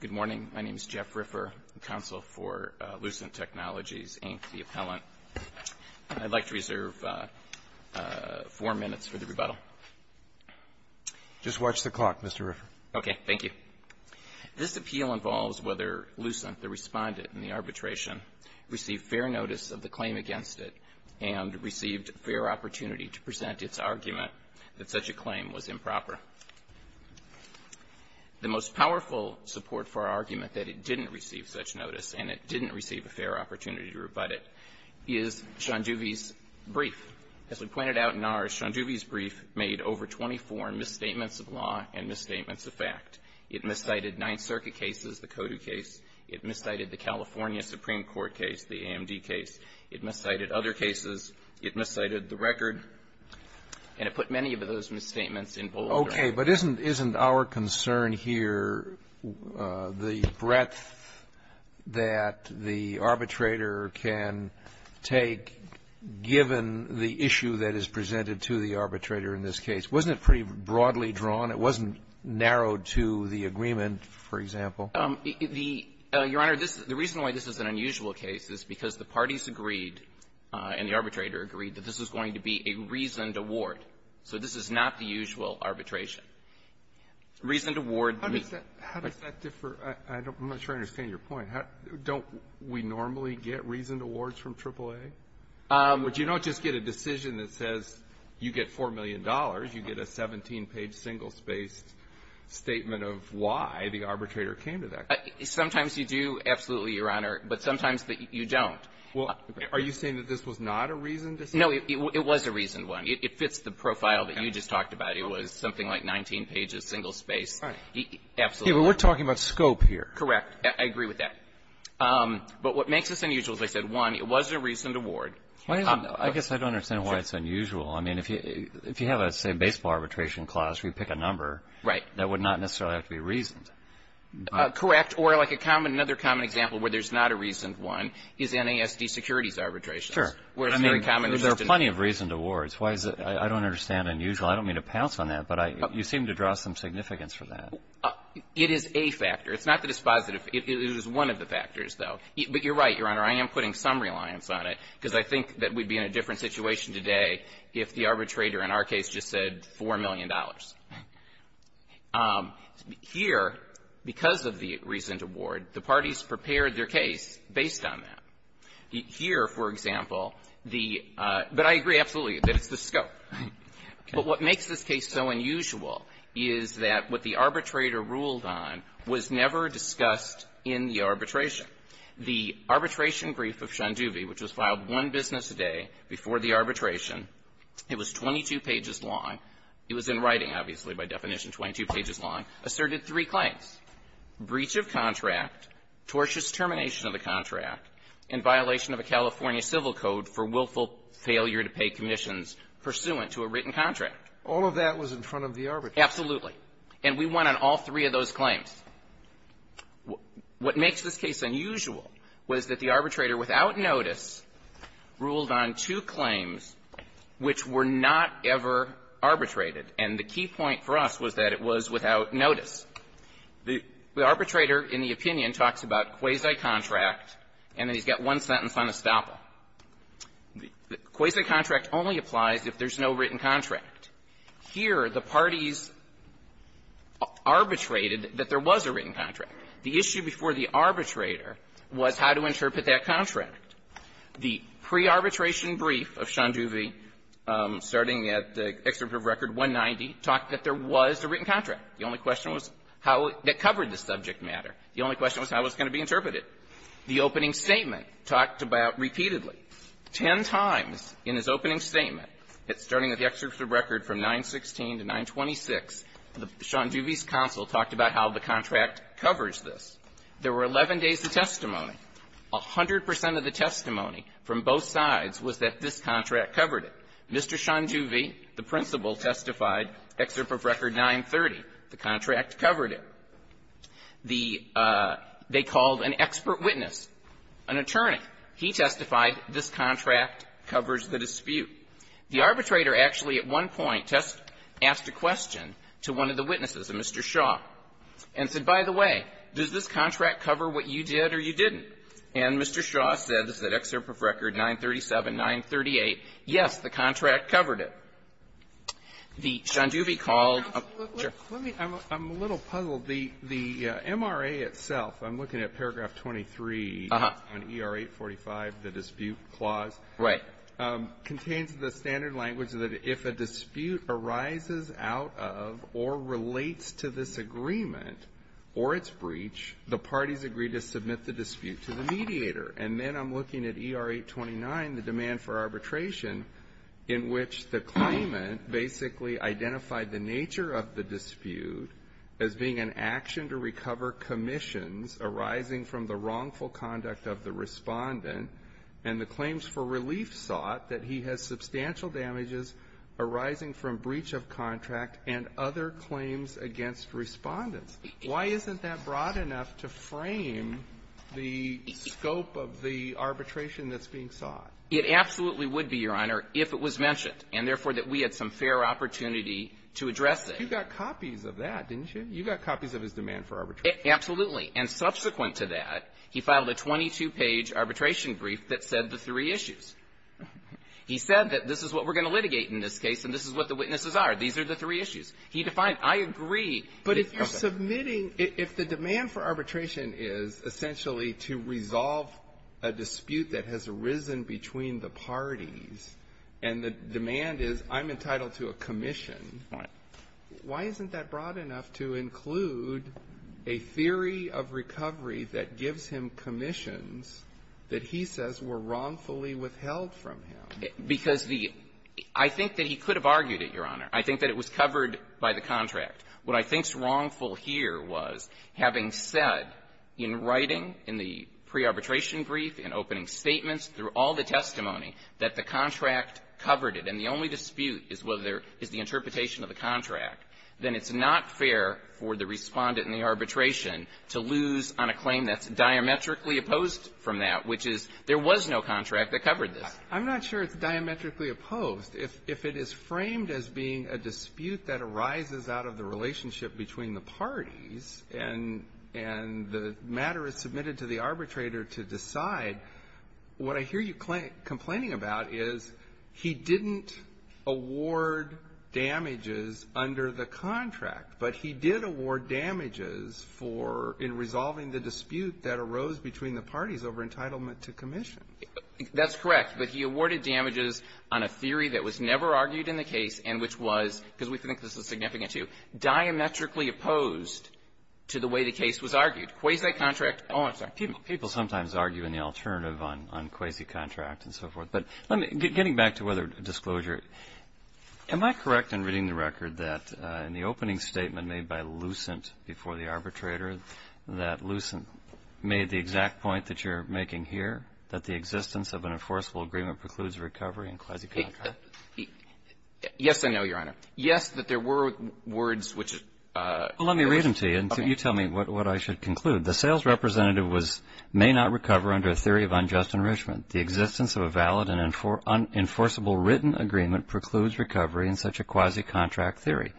Good morning. My name is Jeff Riffer, counsel for Lucent Technologies, Inc., the appellant. I'd like to reserve four minutes for the rebuttal. Just watch the clock, Mr. Riffer. Okay. Thank you. This appeal involves whether Lucent, the respondent in the arbitration, received fair notice of the claim against it and received fair opportunity to present its argument that such a claim was improper. The most powerful support for our argument that it didn't receive such notice and it didn't receive a fair opportunity to rebut it is Schoenduve's brief. As we pointed out in ours, Schoenduve's brief made over 24 misstatements of law and misstatements of fact. It miscited Ninth Circuit cases, the CODU case. It miscited the California Supreme Court case, the AMD case. It miscited other cases. It miscited the record. And it put many of those misstatements in bold. Okay. But isn't our concern here the breadth that the arbitrator can take given the issue that is presented to the arbitrator in this case? Wasn't it pretty broadly drawn? It wasn't narrowed to the agreement, for example? The Your Honor, this is the reason why this is an unusual case is because the parties agreed and the arbitrator agreed that this is going to be a reasoned award. So this is not the usual arbitration. Reasoned award. How does that differ? I'm not sure I understand your point. Don't we normally get reasoned awards from AAA? But you don't just get a decision that says you get $4 million. You get a 17-page single-spaced statement of why the arbitrator came to that case. Sometimes you do, absolutely, Your Honor, but sometimes you don't. Well, are you saying that this was not a reasoned decision? No, it was a reasoned one. It fits the profile that you just talked about. It was something like 19 pages, single-spaced. Right. Absolutely. We're talking about scope here. Correct. I agree with that. But what makes this unusual, as I said, one, it was a reasoned award. I guess I don't understand why it's unusual. I mean, if you have a, say, baseball arbitration clause, we pick a number. Right. That would not necessarily have to be reasoned. Correct. Or like a common, another common example where there's not a reasoned one is NASD securities arbitration. Sure. Where it's very common. There are plenty of reasoned awards. Why is it, I don't understand unusual. I don't mean to pounce on that, but you seem to draw some significance for that. It is a factor. It's not that it's positive. It is one of the factors, though. But you're right, Your Honor. I am putting some reliance on it. Because I think that we'd be in a different situation today if the arbitrator in our case just said $4 million. Here, because of the reasoned award, the parties prepared their case based on that. Here, for example, the, but I agree absolutely that it's the scope. But what makes this case so unusual is that what the arbitrator ruled on was never discussed in the arbitration. The arbitration brief of Shandubi, which was filed one business a day before the arbitration, it was 22 pages long. It was in writing, obviously, by definition, 22 pages long, asserted three claims, breach of contract, tortious termination of the contract, and violation of a California civil code for willful failure to pay commissions pursuant to a written contract. All of that was in front of the arbitrator. Absolutely. And we went on all three of those claims. What makes this case unusual was that the arbitrator, without notice, ruled on two claims which were not ever arbitrated. And the key point for us was that it was without notice. The arbitrator, in the opinion, talks about quasi-contract, and then he's got one sentence on estoppel. The quasi-contract only applies if there's no written contract. Here, the parties arbitrated that there was a written contract. The issue before the arbitrator was how to interpret that contract. The pre-arbitration brief of Shandubi, starting at the excerpt of Record 190, talked that there was a written contract. The only question was how it covered the subject matter. The only question was how it was going to be interpreted. The opening statement talked about repeatedly, ten times in his opening statement at starting at the excerpt of Record from 916 to 926, Shandubi's counsel talked about how the contract covers this. There were 11 days of testimony. A hundred percent of the testimony from both sides was that this contract covered it. Mr. Shandubi, the principal, testified, excerpt of Record 930, the contract covered it. The they called an expert witness, an attorney. He testified this contract covers the dispute. The arbitrator actually at one point asked a question to one of the witnesses, a Mr. Shaw, and said, by the way, does this contract cover what you did or you didn't? And Mr. Shaw said, this is an excerpt of Record 937, 938, yes, the contract covered it. The Shandubi called the MRA itself. I'm looking at paragraph 23 on ER 845, the dispute clause. Right. Contains the standard language that if a dispute arises out of or relates to this agreement or its breach, the parties agree to submit the dispute to the mediator. And then I'm looking at ER 829, the demand for arbitration, in which the claimant basically identified the nature of the dispute as being an action to recover commissions arising from the wrongful conduct of the Respondent and the claims for relief sought that he has substantial damages arising from breach of contract and other claims against Respondents. Why isn't that broad enough to frame the scope of the arbitration that's being sought? It absolutely would be, Your Honor, if it was mentioned and, therefore, that we had some fair opportunity to address it. You got copies of that, didn't you? You got copies of his demand for arbitration. Absolutely. And subsequent to that, he filed a 22-page arbitration brief that said the three issues. He said that this is what we're going to litigate in this case, and this is what the witnesses are. These are the three issues. He defined, I agree. But if you're submitting – if the demand for arbitration is essentially to resolve a dispute that has arisen between the parties, and the demand is I'm entitled to a commission, why isn't that broad enough to include a theory of recovery that gives him commissions that he says were wrongfully withheld from him? Because the – I think that he could have argued it, Your Honor. I think that it was covered by the contract. What I think's wrongful here was, having said in writing, in the pre-arbitration brief, in opening statements, through all the testimony, that the contract covered it, and the only dispute is whether there is the interpretation of the contract, then it's not fair for the Respondent in the arbitration to lose on a claim that's diametrically opposed from that, which is there was no contract that covered this. I'm not sure it's diametrically opposed. If it is framed as being a dispute that arises out of the relationship between the parties, and the matter is submitted to the arbitrator to decide, what I hear you complaining about is he didn't award damages under the contract, but he did award damages for – in resolving the dispute that arose between the parties over entitlement to commissions. That's correct. But he awarded damages on a theory that was never argued in the case and which was, because we think this is significant, too, diametrically opposed to the way the case was argued. Quasi-contract – oh, I'm sorry. People sometimes argue in the alternative on quasi-contract and so forth. But getting back to whether disclosure – am I correct in reading the record that in the opening statement made by Lucent before the arbitrator, that Lucent made the exact point that you're making here, that the existence of an enforceable agreement precludes recovery in quasi-contract? Yes, I know, Your Honor. Yes, that there were words which – Well, let me read them to you, and you tell me what I should conclude. The sales representative was – may not recover under a theory of unjust enrichment. The existence of a valid and enforceable written agreement precludes recovery in such a quasi-contract theory.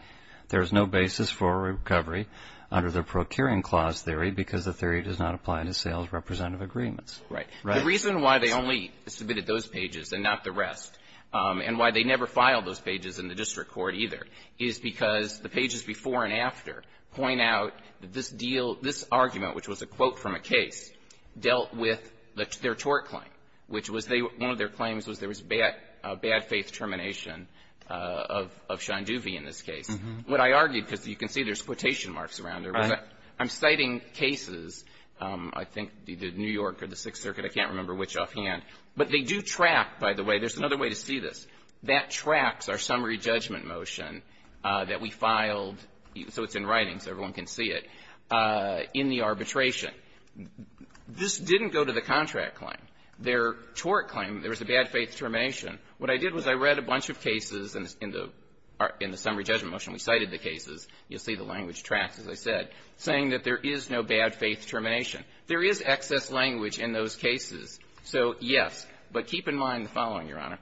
There is no basis for recovery under the procuring clause theory because the theory does not apply to sales representative agreements. Right. The reason why they only submitted those pages and not the rest, and why they never filed those pages in the district court either, is because the pages before and after point out that this deal – this argument, which was a quote from a case, dealt with their tort claim, which was they – one of their claims was there was bad – bad faith termination of – of Shanduvi in this case. What I argued, because you can see there's quotation marks around it, was that I'm citing cases – I think the New York or the Sixth Circuit, I can't remember which offhand – but they do track, by the way – there's another way to see this that tracks our summary judgment motion that we filed, so it's in writing so everyone can see it, in the arbitration. This didn't go to the contract claim. Their tort claim, there was a bad faith termination. What I did was I read a bunch of cases in the – in the summary judgment motion. We cited the cases. You'll see the language tracks, as I said, saying that there is no bad faith termination. There is excess language in those cases. So, yes, but keep in mind the following, Your Honor.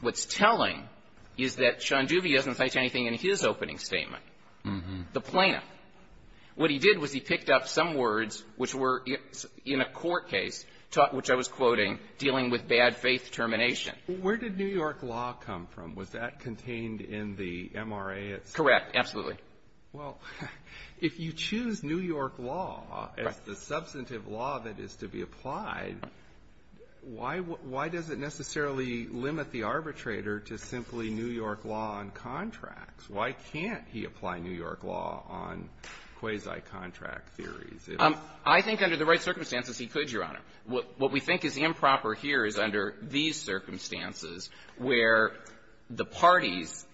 What's telling is that Shanduvi doesn't cite anything in his opening statement. The plaintiff. What he did was he picked up some words which were in a court case, which I was quoting, dealing with bad faith termination. Alito, where did New York law come from? Was that contained in the MRA itself? Correct. Absolutely. Well, if you choose New York law as the substantive law that is to be applied, why does it necessarily limit the arbitrator to simply New York law on contracts? Why can't he apply New York law on quasi-contract theories? I think under the right circumstances, he could, Your Honor. What we think is improper here is under these circumstances, where the parties,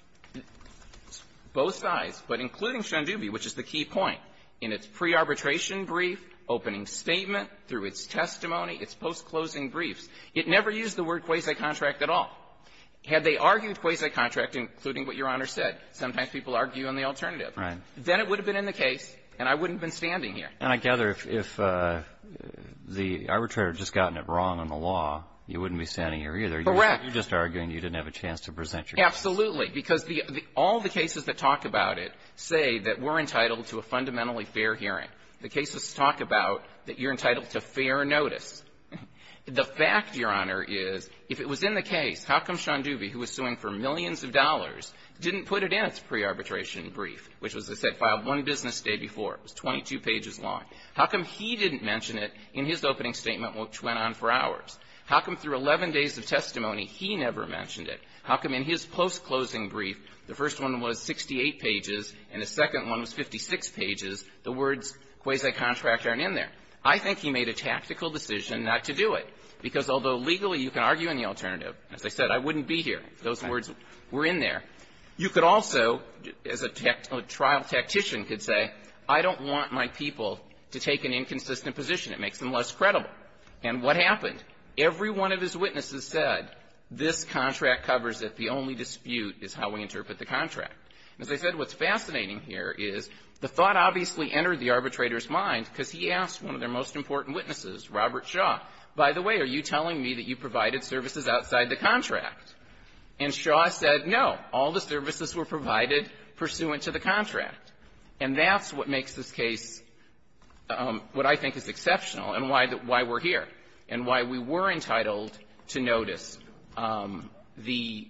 both sides, but including Shanduvi, which is the key point, in its pre-arbitration brief, opening statement, through its testimony, its post-closing briefs, it never used the word quasi-contract at all. Had they argued quasi-contract, including what Your Honor said, sometimes people argue on the alternative. Right. Then it would have been in the case, and I wouldn't have been standing here. And I gather if the arbitrator had just gotten it wrong on the law, you wouldn't be standing here either. Correct. You're just arguing you didn't have a chance to present your case. Absolutely. Because all the cases that talk about it say that we're entitled to a fundamentally fair hearing. The cases talk about that you're entitled to fair notice. The fact, Your Honor, is if it was in the case, how come Shanduvi, who was suing for millions of dollars, didn't put it in its pre-arbitration brief, which was, as I said, filed one business day before. It was 22 pages long. How come he didn't mention it in his opening statement, which went on for hours? How come through 11 days of testimony, he never mentioned it? How come in his post-closing brief, the first one was 68 pages and the second one was 56 pages, the words quasi-contract aren't in there? I think he made a tactical decision not to do it. Because although legally you can argue in the alternative, as I said, I wouldn't be here if those words were in there, you could also, as a trial tactician could say, I don't want my people to take an inconsistent position. It makes them less credible. And what happened? Every one of his witnesses said, this contract covers it. The only dispute is how we interpret the contract. As I said, what's fascinating here is the thought obviously entered the arbitrator's mind because he asked one of their most important witnesses, Robert Shaw, by the way, are you telling me that you provided services outside the contract? And Shaw said, no. All the services were provided pursuant to the contract. And that's what makes this case what I think is exceptional and why we're here, and why we were entitled to notice the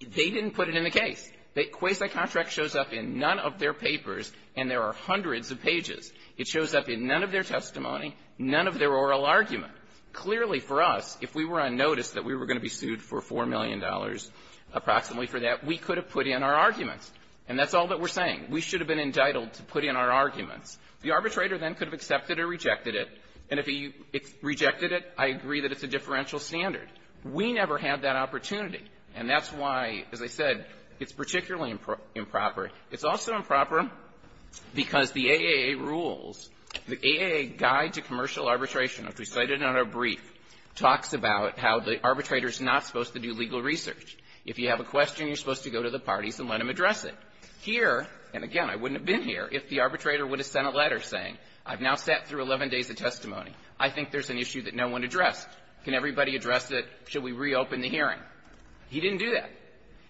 they didn't put it in the case. The Quasi contract shows up in none of their papers, and there are hundreds of pages. It shows up in none of their testimony, none of their oral argument. Clearly for us, if we were on notice that we were going to be sued for $4 million approximately for that, we could have put in our arguments. And that's all that we're saying. We should have been entitled to put in our arguments. The arbitrator then could have accepted or rejected it. And if he rejected it, I agree that it's a differential standard. We never had that opportunity. And that's why, as I said, it's particularly improper. It's also improper because the AAA rules, the AAA Guide to Commercial Arbitration, which we cited in our brief, talks about how the arbitrator is not supposed to do legal research. If you have a question, you're supposed to go to the parties and let them address it. Here, and again, I wouldn't have been here if the arbitrator would have sent a letter saying, I've now sat through 11 days of testimony. I think there's an issue that no one addressed. Can everybody address it? Should we reopen the hearing? He didn't do that.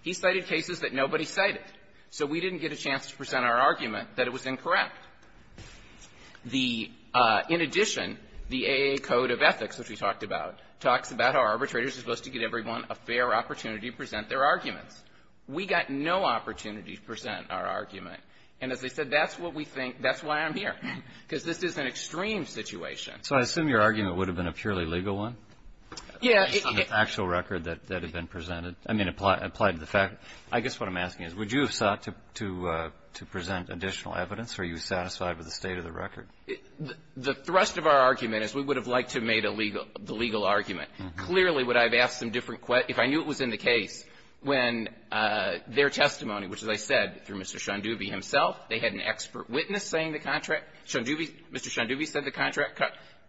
He cited cases that nobody cited. So we didn't get a chance to present our argument that it was incorrect. The — in addition, the AAA Code of Ethics, which we talked about, talks about how arbitrators are supposed to give everyone a fair opportunity to present their arguments. We got no opportunity to present our argument. And as I said, that's what we think. That's why I'm here, because this is an extreme situation. So I assume your argument would have been a purely legal one? Yeah. On the actual record that had been presented, I mean, applied to the fact — I guess what I'm asking is, would you have sought to present additional evidence? Are you satisfied with the state of the record? The thrust of our argument is we would have liked to have made a legal — the legal argument. Clearly, what I've asked some different — if I knew it was in the case, when their testimony, which, as I said, through Mr. Shondubi himself, they had an expert witness saying the contract — Shondubi — Mr. Shondubi said the contract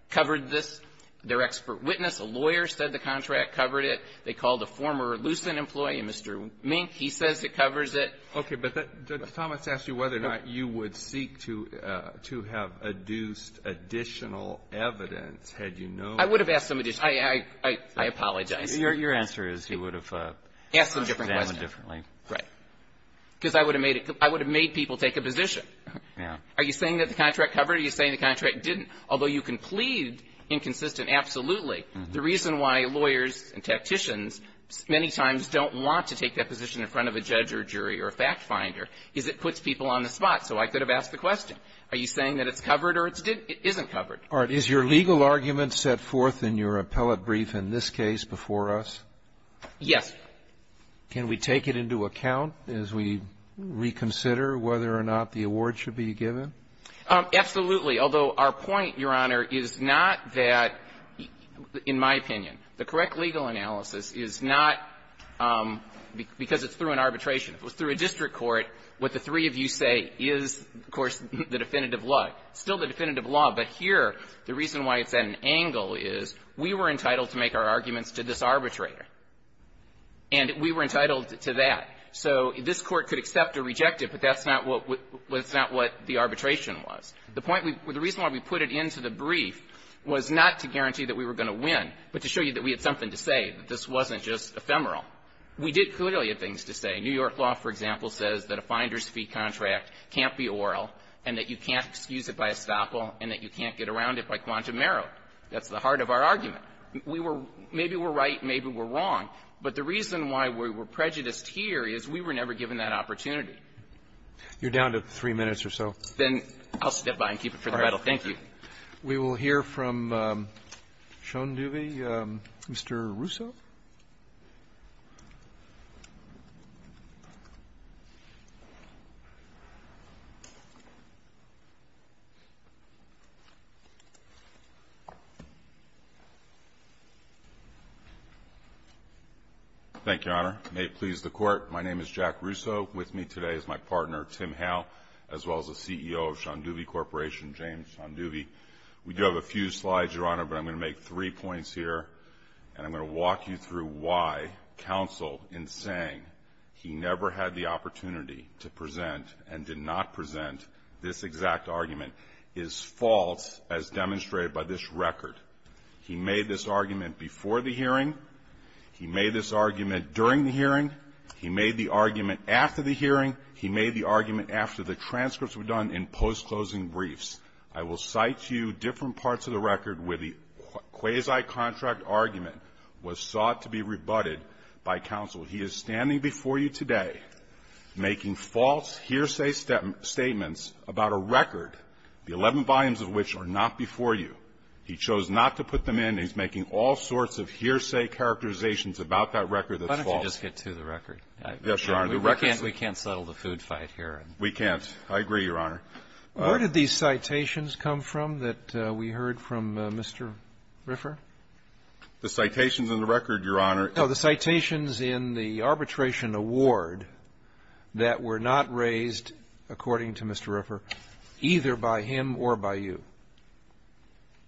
covered this. Their expert witness, a lawyer, said the contract covered it. They called a former Lucent employee, Mr. Mink. He says it covers it. Okay. But that — Judge Thomas asked you whether or not you would seek to have adduced additional evidence, had you known — I would have asked some additional — I apologize. Your answer is you would have examined differently. Right. Because I would have made it — I would have made people take a position. Yeah. Are you saying that the contract covered it? Are you saying the contract didn't? Although you can plead inconsistent, absolutely. The reason why lawyers and tacticians many times don't want to take that position in front of a judge or jury or a fact-finder is it puts people on the spot. So I could have asked the question. Are you saying that it's covered or it's — it isn't covered? All right. Is your legal argument set forth in your appellate brief in this case before us? Yes. Can we take it into account as we reconsider whether or not the award should be given? Absolutely. Although our point, Your Honor, is not that, in my opinion, the correct legal analysis is not because it's through an arbitration. If it was through a district court, what the three of you say is, of course, the definitive law. It's still the definitive law, but here the reason why it's at an angle is we were entitled to make our arguments to this arbitrator, and we were entitled to that. So this Court could accept or reject it, but that's not what — that's not what the arbitration was. The point — the reason why we put it into the brief was not to guarantee that we were going to win, but to show you that we had something to say, that this wasn't just ephemeral. We did clearly have things to say. New York law, for example, says that a finder's fee contract can't be oral and that you can't excuse it by estoppel and that you can't get around it by quantum error. That's the heart of our argument. We were — maybe we're right, maybe we're wrong, but the reason why we were prejudiced here is we were never given that opportunity. You're down to three minutes or so. Then I'll step by and keep it for the record. Thank you. We will hear from Sean Newby, Mr. Russo. Thank you, Your Honor. May it please the Court, my name is Jack Russo. With me today is my partner, Tim Howe, as well as the CEO of Sean Newby Corporation, James Sean Newby. We do have a few slides, Your Honor, but I'm going to make three points here and I'm going to walk you through why counsel, in saying he never had the opportunity to present and did not present this exact argument, is false as demonstrated by this record. He made this argument before the hearing. He made this argument during the hearing. He made the argument after the hearing. He made the argument after the transcripts were done in post-closing briefs. I will cite to you different parts of the record where the quasi-contract argument was sought to be rebutted by counsel. He is standing before you today making false hearsay statements about a record, the 11 volumes of which are not before you. He chose not to put them in. I'll just get to the record. Yes, Your Honor. We can't settle the food fight here. We can't. I agree, Your Honor. Where did these citations come from that we heard from Mr. Riffer? The citations in the record, Your Honor. No, the citations in the arbitration award that were not raised, according to Mr. Riffer, either by him or by you.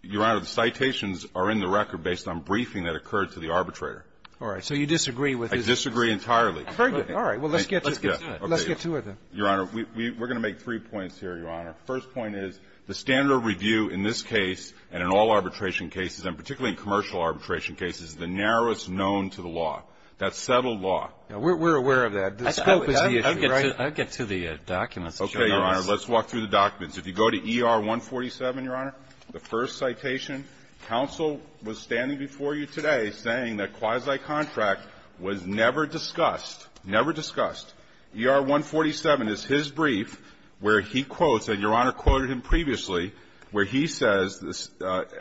Your Honor, the citations are in the record based on briefing that occurred to the arbitrator. All right. So you disagree with his argument. I disagree entirely. Very good. All right. Well, let's get to it. Let's get to it then. Your Honor, we're going to make three points here, Your Honor. The first point is the standard of review in this case and in all arbitration cases, and particularly in commercial arbitration cases, is the narrowest known to the law. That's settled law. We're aware of that. The scope is the issue, right? I'll get to the documents. Okay, Your Honor. Let's walk through the documents. If you go to ER-147, Your Honor, the first citation, counsel was standing before you today saying that quasi-contract was never discussed. Never discussed. ER-147 is his brief where he quotes, and Your Honor quoted him previously, where he says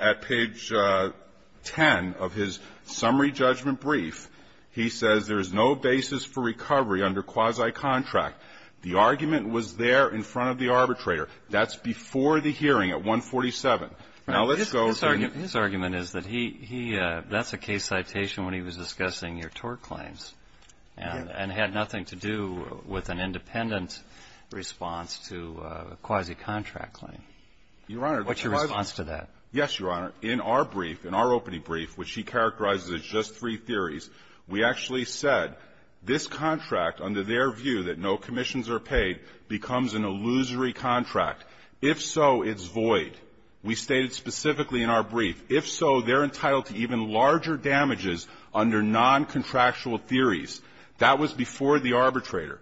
at page 10 of his summary judgment brief, he says there is no basis for recovery under quasi-contract. The argument was there in front of the arbitrator. That's before the hearing at 147. Now, let's go to his argument is that he, that's a case citation when he was discussing your tort claims and had nothing to do with an independent response to a quasi-contract claim. What's your response to that? Yes, Your Honor. In our brief, in our opening brief, which he characterizes as just three theories, we actually said this contract, under their view that no commissions are paid, becomes an illusory contract. If so, it's void. We stated specifically in our brief. If so, they're entitled to even larger damages under non-contractual theories. That was before the arbitrator.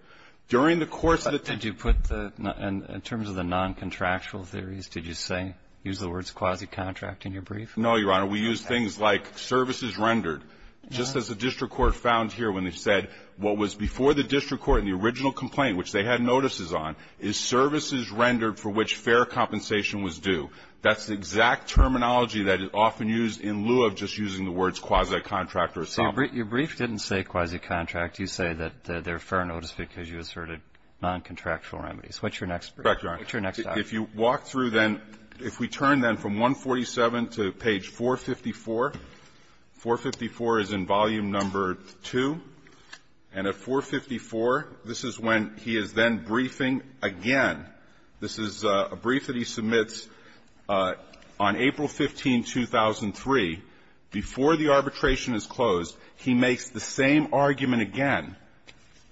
During the course of the terms of the non-contractual theories, did you say, use the words quasi-contract in your brief? No, Your Honor. We used things like services rendered. Just as the district court found here when they said what was before the district court in the original complaint, which they had notices on, is services rendered for which fair compensation was due. That's the exact terminology that is often used in lieu of just using the words quasi-contract or something. So your brief didn't say quasi-contract. You say that they're fair notice because you asserted non-contractual remedies. What's your next brief? Correct, Your Honor. What's your next argument? If you walk through then, if we turn then from 147 to page 454, 454 is in volume number 2. And at 454, this is when he is then briefing again. This is a brief that he submits on April 15, 2003. Before the arbitration is closed, he makes the same argument again.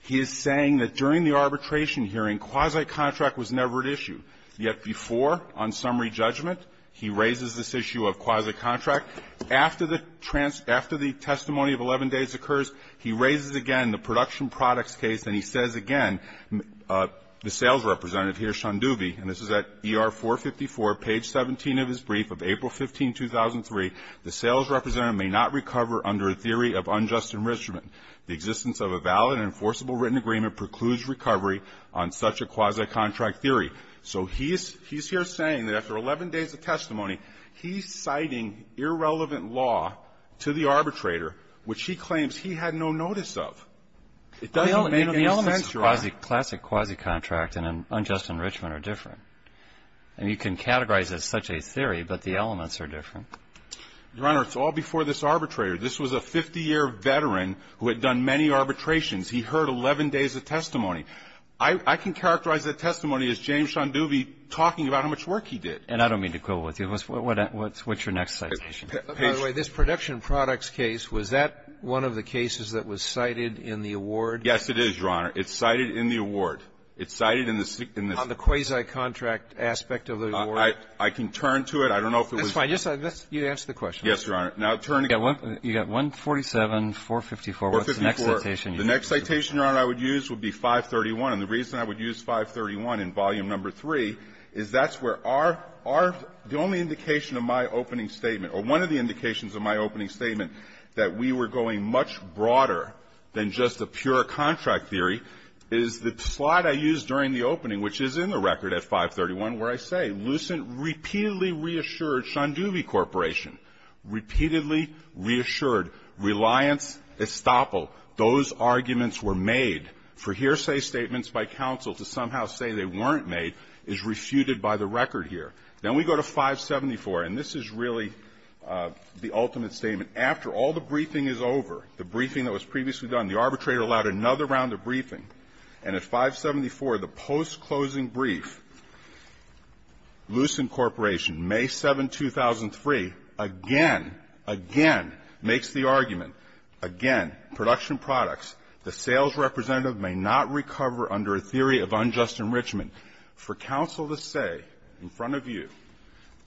He is saying that during the arbitration hearing, quasi-contract was never at issue. Yet before, on summary judgment, he raises this issue of quasi-contract. After the testimony of 11 days occurs, he raises again the production products case. And he says again, the sales representative here, Shundubi, and this is at ER 454, page 17 of his brief of April 15, 2003, the sales representative may not recover under a theory of unjust enrichment. The existence of a valid and enforceable written agreement precludes recovery on such a quasi-contract theory. So he is here saying that after 11 days of testimony, he is citing irrelevant law to the arbitrator, which he claims he had no notice of. It doesn't make any sense, Your Honor. Classic quasi-contract and unjust enrichment are different. I mean, you can categorize it as such a theory, but the elements are different. Your Honor, it's all before this arbitrator. This was a 50-year veteran who had done many arbitrations. He heard 11 days of testimony. I can characterize that testimony as James Shundubi talking about how much work he did. And I don't mean to quibble with you. What's your next citation? By the way, this production products case, was that one of the cases that was cited in the award? Yes, it is, Your Honor. It's cited in the award. It's cited in the sixth in this case. On the quasi-contract aspect of the award? I can turn to it. I don't know if it was. That's fine. You answer the question. Yes, Your Honor. You got 147, 454. What's the next citation? The next citation, Your Honor, I would use would be 531. And the reason I would use 531 in Volume No. 3 is that's where our — the only indication of my opening statement, or one of the indications of my opening statement that we were going much broader than just a pure contract theory is the slide I used during the opening, which is in the record at 531, where I say, Lucent repeatedly reassured Shundubi Corporation. Repeatedly reassured. Reliance, estoppel. Those arguments were made. For hearsay statements by counsel to somehow say they weren't made is refuted by the record here. Then we go to 574, and this is really the ultimate statement. After all the briefing is over, the briefing that was previously done, the arbitrator allowed another round of briefing. And at 574, the post-closing brief, Lucent Corporation, May 7, 2003, again, again, makes the argument, again, production products, the sales representative may not recover under a theory of unjust enrichment. For counsel to say in front of you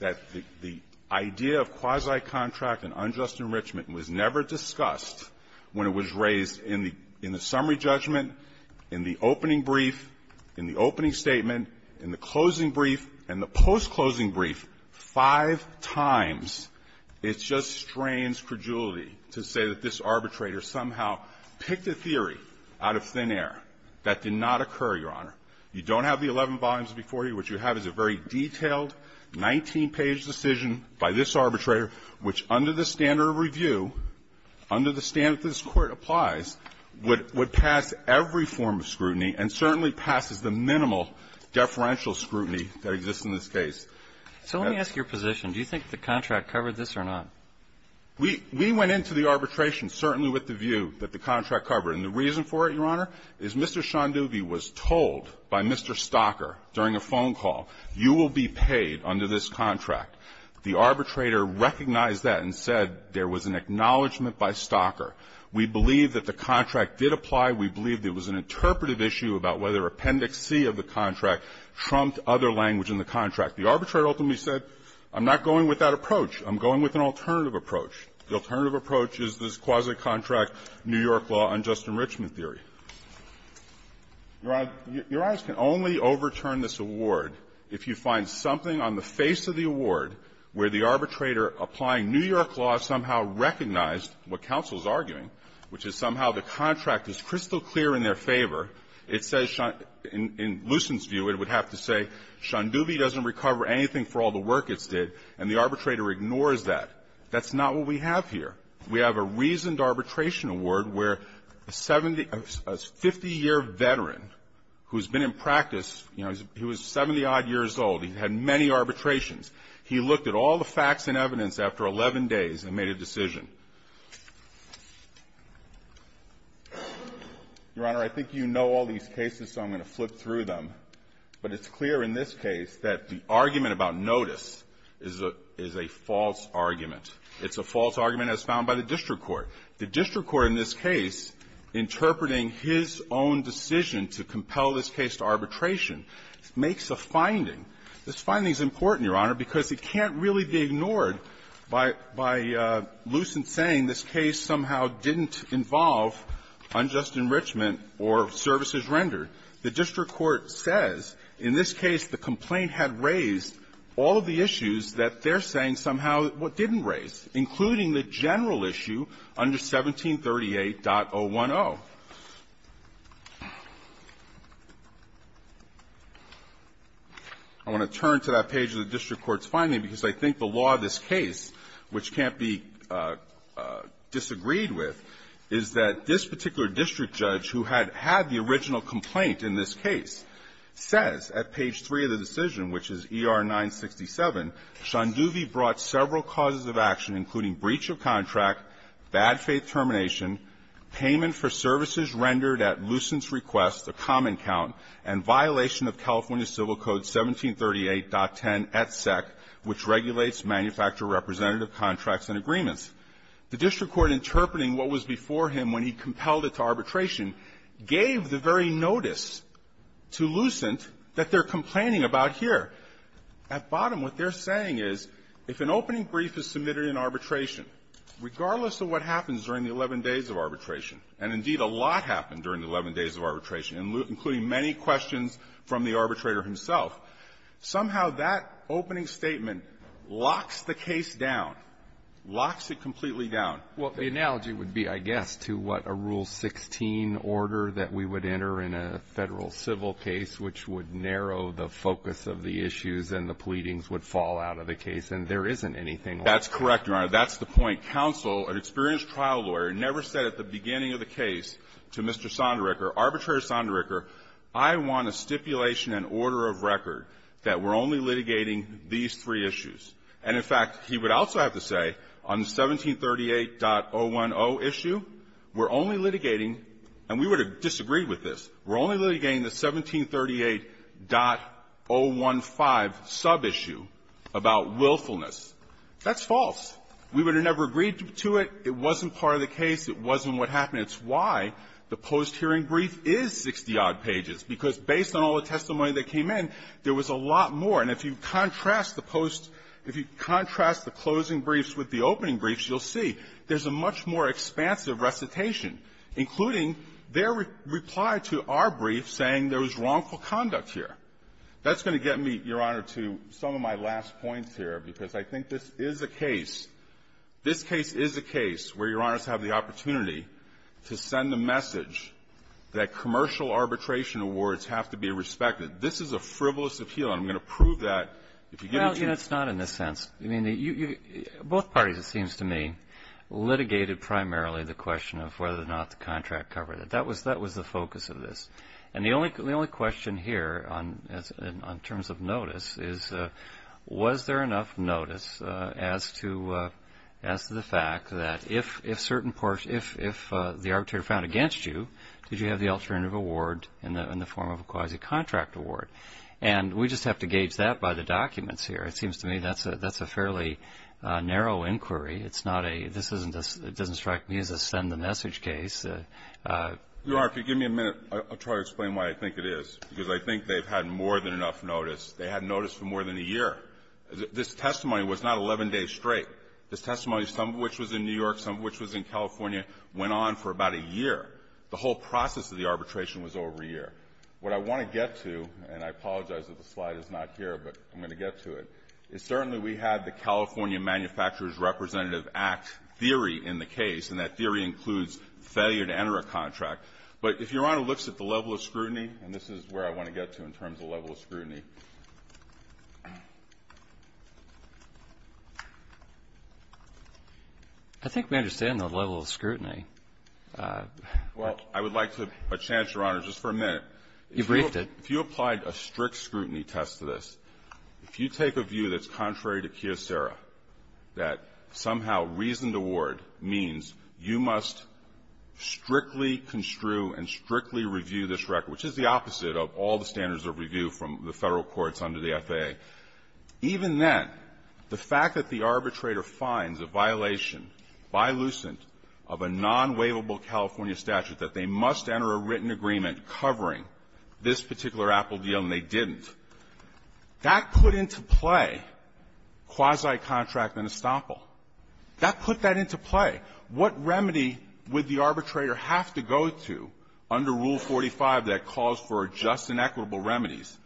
that the idea of quasi-contract and unjust enrichment was never discussed when it was raised in the summary judgment, in the opening brief, in the opening statement, in the closing brief, and the post-closing brief, five times, it just strains credulity to say that this arbitrator somehow picked a theory out of thin air that did not occur, Your Honor. You don't have the 11 volumes before you. What you have is a very detailed, 19-page decision by this arbitrator, which under the standard of review, under the standard that this Court applies, would pass every form of scrutiny, and certainly passes the minimal deferential scrutiny that exists in this case. So let me ask your position. Do you think the contract covered this or not? We went into the arbitration certainly with the view that the contract covered. And the reason for it, Your Honor, is Mr. Shandubi was told by Mr. Stocker during a phone call, you will be paid under this contract. The arbitrator recognized that and said there was an acknowledgment by Stocker. We believe that the contract did apply. We believe there was an interpretive issue about whether Appendix C of the contract trumped other language in the contract. The arbitrator ultimately said, I'm not going with that approach. I'm going with an alternative approach. The alternative approach is this quasi-contract New York law unjust enrichment theory. Your Honor, Your Honor can only overturn this award if you find something on the face of the award where the arbitrator applying New York law somehow recognized what counsel is arguing, which is somehow the contract is crystal clear in their favor. It says in Lucent's view it would have to say Shandubi doesn't recover anything for all the work it's did, and the arbitrator ignores that. That's not what we have here. We have a reasoned arbitration award where a 50-year veteran who's been in practice, you know, he was 70-odd years old. He had many arbitrations. He looked at all the facts and evidence after 11 days and made a decision. Your Honor, I think you know all these cases, so I'm going to flip through them. But it's clear in this case that the argument about notice is a false argument. It's a false argument as found by the district court. The district court in this case, interpreting his own decision to compel this case to arbitration, makes a finding. This finding is important, Your Honor, because it can't really be ignored by Lucent saying this case somehow didn't involve unjust enrichment or services rendered. The district court says in this case the complaint had raised all of the issues that they're saying somehow didn't raise, including the general issue under 1738.010. So I want to turn to that page of the district court's finding because I think the law of this case, which can't be disagreed with, is that this particular district judge who had had the original complaint in this case says at page 3 of the decision, which is ER-967, Shanduvi brought several causes of action, including breach of contract, bad-faith termination, payment for services rendered at Lucent's request, a common count, and violation of California Civil Code 1738.10etsec, which regulates manufacturer-representative contracts and agreements. The district court, interpreting what was before him when he compelled it to arbitration, gave the very notice to Lucent that they're complaining about here. At bottom, what they're saying is if an opening brief is submitted in arbitration, regardless of what happens during the 11 days of arbitration, and, indeed, a lot happened during the 11 days of arbitration, including many questions from the arbitrator himself, somehow that opening statement locks the case down, locks it completely down. Well, the analogy would be, I guess, to what, a Rule 16 order that we would enter in a Federal civil case, which would narrow the focus of the issues and the pleadings would fall out of the case, and there isn't anything like that. That's correct, Your Honor. That's the point. Counsel, an experienced trial lawyer, never said at the beginning of the case to Mr. Sondericher, Arbitrator Sondericher, I want a stipulation and order of record that we're only litigating these three issues. And, in fact, he would also have to say on the 1738.010 issue, we're only litigating and we would have disagreed with this, we're only litigating the 1738.015 sub-issue about willfulness. That's false. We would have never agreed to it. It wasn't part of the case. It wasn't what happened. It's why the post-hearing brief is 60-odd pages, because based on all the testimony that came in, there was a lot more. And if you contrast the post – if you contrast the closing briefs with the opening briefs, you'll see there's a much more expansive recitation, including their reply to our brief saying there was wrongful conduct here. That's going to get me, Your Honor, to some of my last points here, because I think this is a case – this case is a case where Your Honors have the opportunity to send a message that commercial arbitration awards have to be respected. This is a frivolous appeal, and I'm going to prove that if you give it to me. Well, it's not in this sense. I mean, both parties, it seems to me, litigated primarily the question of whether or not the contract covered it. That was the focus of this. And the only question here on terms of notice is, was there enough notice as to the fact that if the arbitrator found against you, did you have the alternative award in the form of a quasi-contract award? And we just have to gauge that by the documents here. It seems to me that's a fairly narrow inquiry. It's not a – this isn't a – it doesn't strike me as a send-the-message case. Your Honor, if you'll give me a minute, I'll try to explain why I think it is, because I think they've had more than enough notice. They had notice for more than a year. This testimony was not 11 days straight. This testimony, some of which was in New York, some of which was in California, went on for about a year. The whole process of the arbitration was over a year. What I want to get to, and I apologize that the slide is not here, but I'm going to get to it, is certainly we had the California Manufacturers' Representative Act theory in the case, and that theory includes failure to enter a contract. But if Your Honor looks at the level of scrutiny, and this is where I want to get to in terms of level of scrutiny. I think we understand the level of scrutiny. Well, I would like to – a chance, Your Honor, just for a minute. You briefed it. If you applied a strict scrutiny test to this, if you take a view that's contrary to Kyocera, that somehow reasoned award means you must strictly construe and strictly review this record, which is the opposite of all the standards of review from the federal courts under the FAA. Even then, the fact that the arbitrator finds a violation, by Lucent, of a non-waivable California statute, that they must enter a written agreement covering this particular Apple deal, and they didn't, that put into play quasi-contract and estoppel. That put that into play. What remedy would the arbitrator have to go to under Rule 45 that calls for just inequitable remedies,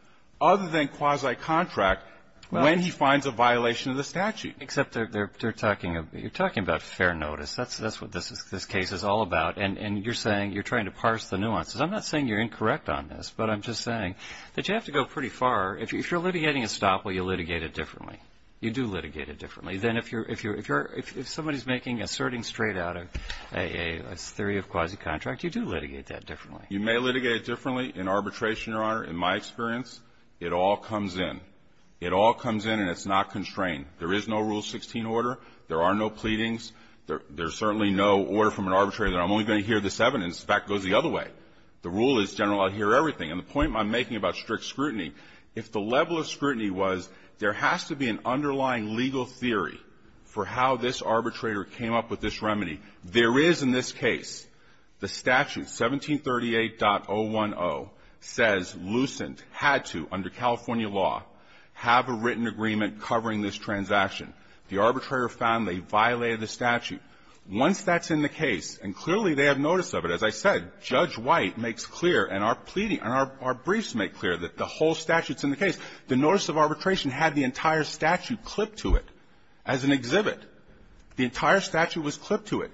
other than quasi-contract, when he finds a violation of the statute? Except they're talking about fair notice. That's what this case is all about. And you're saying – you're trying to parse the nuances. I'm not saying you're incorrect on this, but I'm just saying that you have to go pretty far. If you're litigating estoppel, you litigate it differently. You do litigate it differently. Then if you're – if somebody's making – asserting straight out a theory of quasi-contract, you do litigate that differently. You may litigate it differently in arbitration, Your Honor. In my experience, it all comes in. It all comes in, and it's not constrained. There is no Rule 16 order. There are no pleadings. There's certainly no order from an arbitrator that I'm only going to hear this evidence. The fact goes the other way. The rule is, General, I'll hear everything. And the point I'm making about strict scrutiny, if the level of scrutiny was there has to be an underlying legal theory for how this arbitrator came up with this remedy. There is in this case the statute, 1738.010, says Lucent had to, under California law, have a written agreement covering this transaction. The arbitrator found they violated the statute. Once that's in the case, and clearly they have notice of it. As I said, Judge White makes clear and our pleading – and our briefs make clear that the whole statute's in the case. The notice of arbitration had the entire statute clipped to it as an exhibit. The entire statute was clipped to it.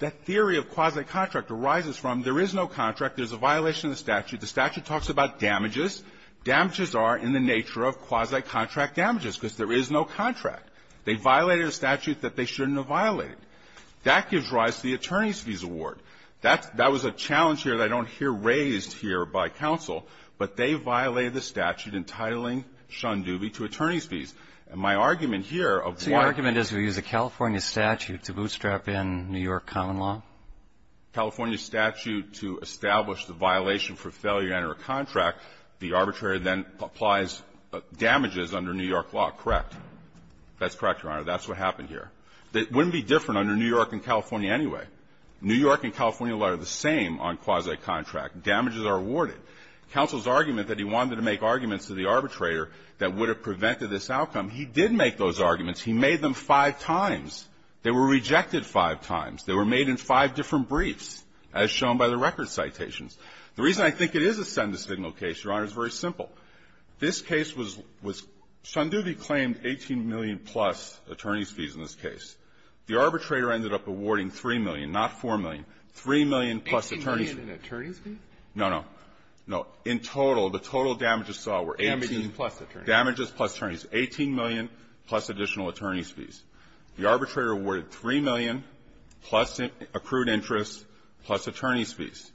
That theory of quasi-contract arises from there is no contract. There's a violation of the statute. The statute talks about damages. Damages are in the nature of quasi-contract damages, because there is no contract. They violated a statute that they shouldn't have violated. That gives rise to the attorney's fees award. That's – that was a challenge here that I don't hear raised here by counsel. But they violated the statute entitling Shunduby to attorney's fees. And my argument here of why – The California statute to bootstrap in New York common law? California statute to establish the violation for failure to enter a contract. The arbitrator then applies damages under New York law, correct? That's correct, Your Honor. That's what happened here. It wouldn't be different under New York and California anyway. New York and California law are the same on quasi-contract. Damages are awarded. Counsel's argument that he wanted to make arguments to the arbitrator that would have prevented this outcome, he did make those arguments. He made them five times. They were rejected five times. They were made in five different briefs, as shown by the record citations. The reason I think it is a send-the-signal case, Your Honor, is very simple. This case was – Shunduby claimed 18 million-plus attorney's fees in this case. The arbitrator ended up awarding 3 million, not 4 million, 3 million-plus attorney's fees. 18 million in attorney's fees? No, no. No. In total, the total damages saw were 18 – Damages plus attorneys. 18 million plus additional attorney's fees. The arbitrator awarded 3 million plus accrued interest plus attorney's fees.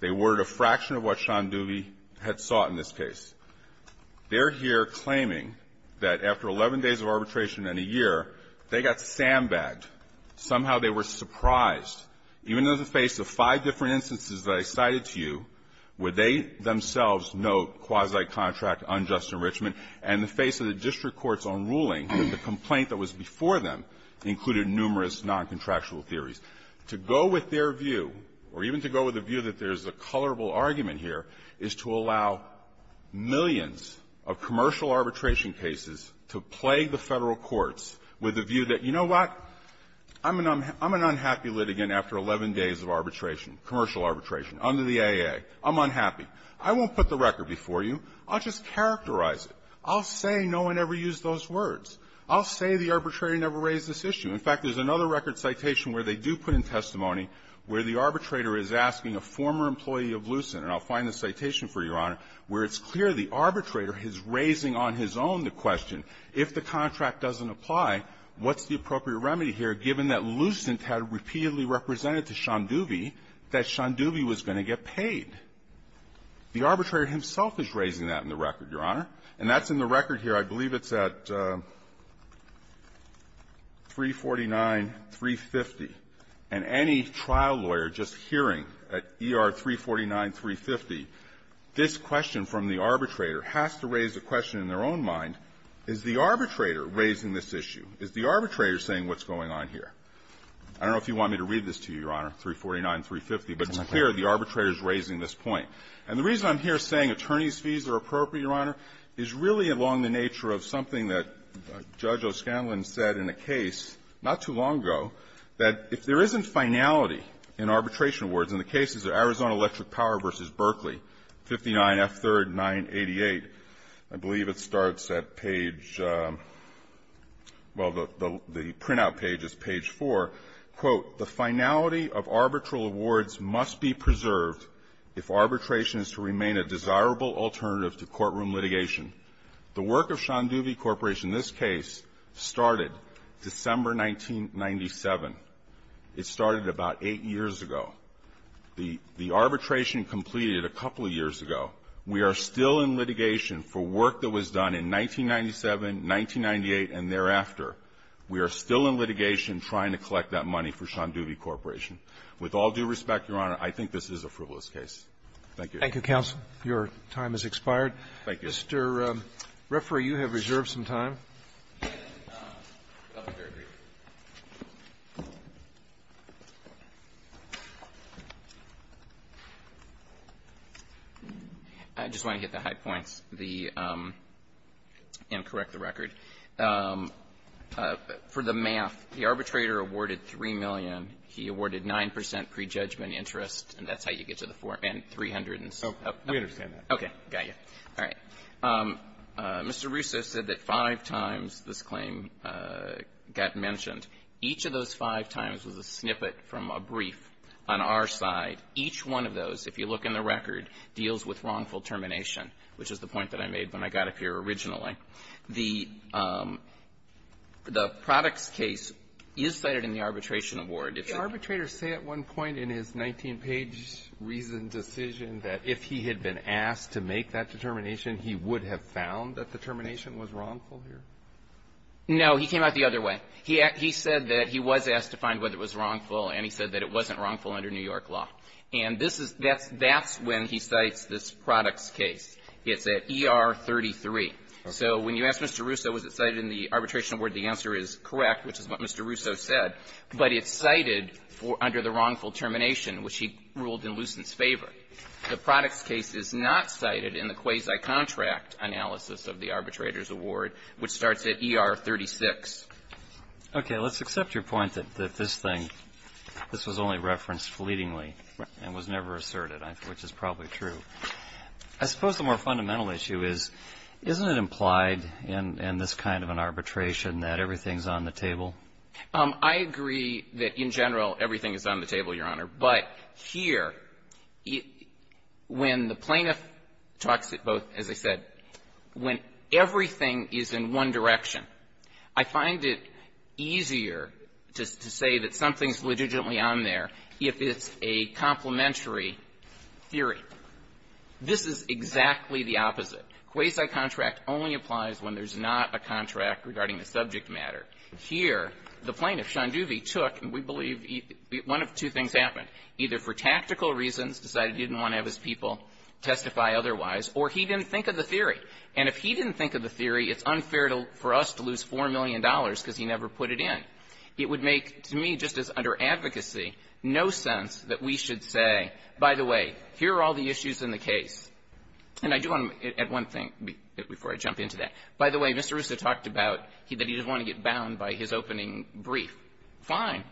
They awarded a fraction of what Shunduby had sought in this case. They're here claiming that after 11 days of arbitration and a year, they got sandbagged. Somehow they were surprised. Even in the face of five different instances that I cited to you, where they themselves note quasi-contract unjust enrichment and the face of the district court's own ruling, the complaint that was before them included numerous noncontractual theories. To go with their view, or even to go with the view that there's a colorable argument here, is to allow millions of commercial arbitration cases to plague the Federal courts with a view that, you know what, I'm an unhappy litigant after 11 days of arbitration, commercial arbitration, under the AA. I'm unhappy. I won't put the record before you. I'll just characterize it. I'll say no one ever used those words. I'll say the arbitrator never raised this issue. In fact, there's another record citation where they do put in testimony where the arbitrator is asking a former employee of Lucent, and I'll find the citation for you, Your Honor, where it's clear the arbitrator is raising on his own the question, if the contract doesn't apply, what's the appropriate remedy here, given that Lucent had repeatedly represented to Shunduby that Shunduby was going to get paid? The arbitrator himself is raising that in the record, Your Honor. And that's in the record here. I believe it's at 349-350. And any trial lawyer just hearing at ER 349-350, this question from the arbitrator has to raise a question in their own mind, is the arbitrator raising this issue? Is the arbitrator saying what's going on here? I don't know if you want me to read this to you, Your Honor, 349-350, but it's clear the arbitrator is raising this point. And the reason I'm here saying attorney's fees are appropriate, Your Honor, is really along the nature of something that Judge O'Scanlan said in a case not too long ago, that if there isn't finality in arbitration awards, and the case is Arizona Electric Power v. Berkeley, 59F3rd 988. I believe it starts at page — well, the printout page is page 4. Quote, the finality of arbitral awards must be preserved if arbitration is to remain a desirable alternative to courtroom litigation. The work of Shanduvi Corporation, this case, started December 1997. It started about eight years ago. The arbitration completed a couple of years ago. We are still in litigation for work that was done in 1997, 1998, and thereafter. We are still in litigation trying to collect that money for Shanduvi Corporation. With all due respect, Your Honor, I think this is a frivolous case. Thank you. Thank you, counsel. Your time has expired. Thank you. Mr. Referee, you have reserved some time. I just want to hit the high points, the — and correct the record. For the math, the arbitrator awarded $3 million. He awarded 9 percent pre-judgment interest, and that's how you get to the — and $300,000. Oh, we understand that. Okay. Got you. All right. Mr. Russo said that five times this claim got mentioned. Each of those five times was a snippet from a brief on our side. Each one of those, if you look in the record, deals with wrongful termination, which is the point that I made when I got up here originally. The products case is cited in the arbitration award. Did the arbitrator say at one point in his 19-page reasoned decision that if he had been asked to make that determination, he would have found that the termination was wrongful here? No. He came out the other way. He said that he was asked to find whether it was wrongful, and he said that it wasn't wrongful under New York law. And this is — that's when he cites this products case. It's at ER 33. So when you ask Mr. Russo, was it cited in the arbitration award, the answer is correct, which is what Mr. Russo said. But it's cited under the wrongful termination, which he ruled in Lucent's favor. The products case is not cited in the quasi-contract analysis of the arbitrator's award, which starts at ER 36. Okay. Let's accept your point that this thing — this was only referenced fleetingly and was never asserted, which is probably true. I suppose the more fundamental issue is, isn't it implied in this kind of an arbitration that everything's on the table? I agree that in general everything is on the table, Your Honor. But here, when the plaintiff talks about, as I said, when everything is in one direction, I find it easier to say that something's legitimately on there if it's a complementary theory. This is exactly the opposite. Quasi-contract only applies when there's not a contract regarding the subject matter. Here, the plaintiff, Sean Duvey, took, and we believe one of two things happened. Either for tactical reasons, decided he didn't want to have his people testify otherwise, or he didn't think of the theory. And if he didn't think of the theory, it's unfair for us to lose $4 million because he never put it in. It would make, to me, just as under advocacy, no sense that we should say, by the way, here are all the issues in the case. And I do want to, at one thing, before I jump into that, by the way, Mr. Russo talked about that he didn't want to get bound by his opening brief. Fine.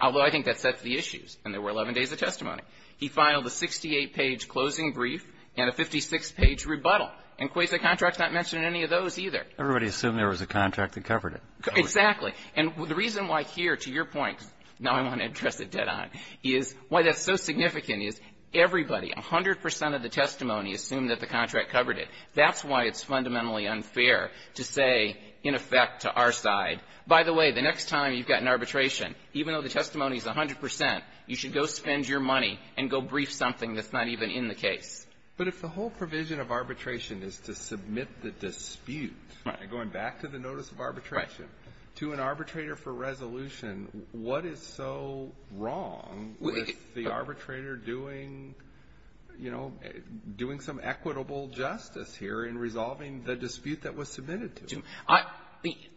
Although I think that sets the issues. And there were 11 days of testimony. He filed a 68-page closing brief and a 56-page rebuttal. And quasi-contract's not mentioned in any of those either. Everybody assumed there was a contract that covered it. Exactly. And the reason why here, to your point, now I want to address it dead on, is why that's so significant is everybody, 100 percent of the testimony assumed that the contract covered it. That's why it's fundamentally unfair to say, in effect, to our side, by the way, the next time you've got an arbitration, even though the testimony's 100 percent, you should go spend your money and go brief something that's not even in the case. But if the whole provision of arbitration is to submit the dispute, going back to the arbitrator for resolution, what is so wrong with the arbitrator doing, you know, doing some equitable justice here in resolving the dispute that was submitted to him?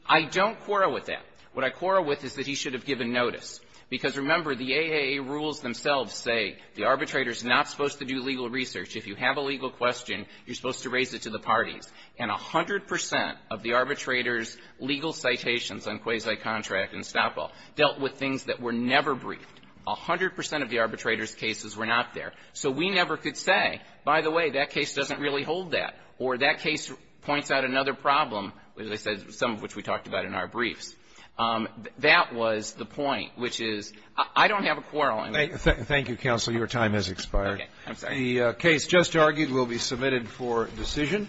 I don't quarrel with that. What I quarrel with is that he should have given notice. Because, remember, the AAA rules themselves say the arbitrator's not supposed to do legal research. If you have a legal question, you're supposed to raise it to the parties. And 100 percent of the arbitrator's legal citations on quasi-contract and stop-all dealt with things that were never briefed. 100 percent of the arbitrator's cases were not there. So we never could say, by the way, that case doesn't really hold that, or that case points out another problem, as I said, some of which we talked about in our briefs. That was the point, which is, I don't have a quarrel on that. Thank you, counsel. Your time has expired. The case just argued will be submitted for decision.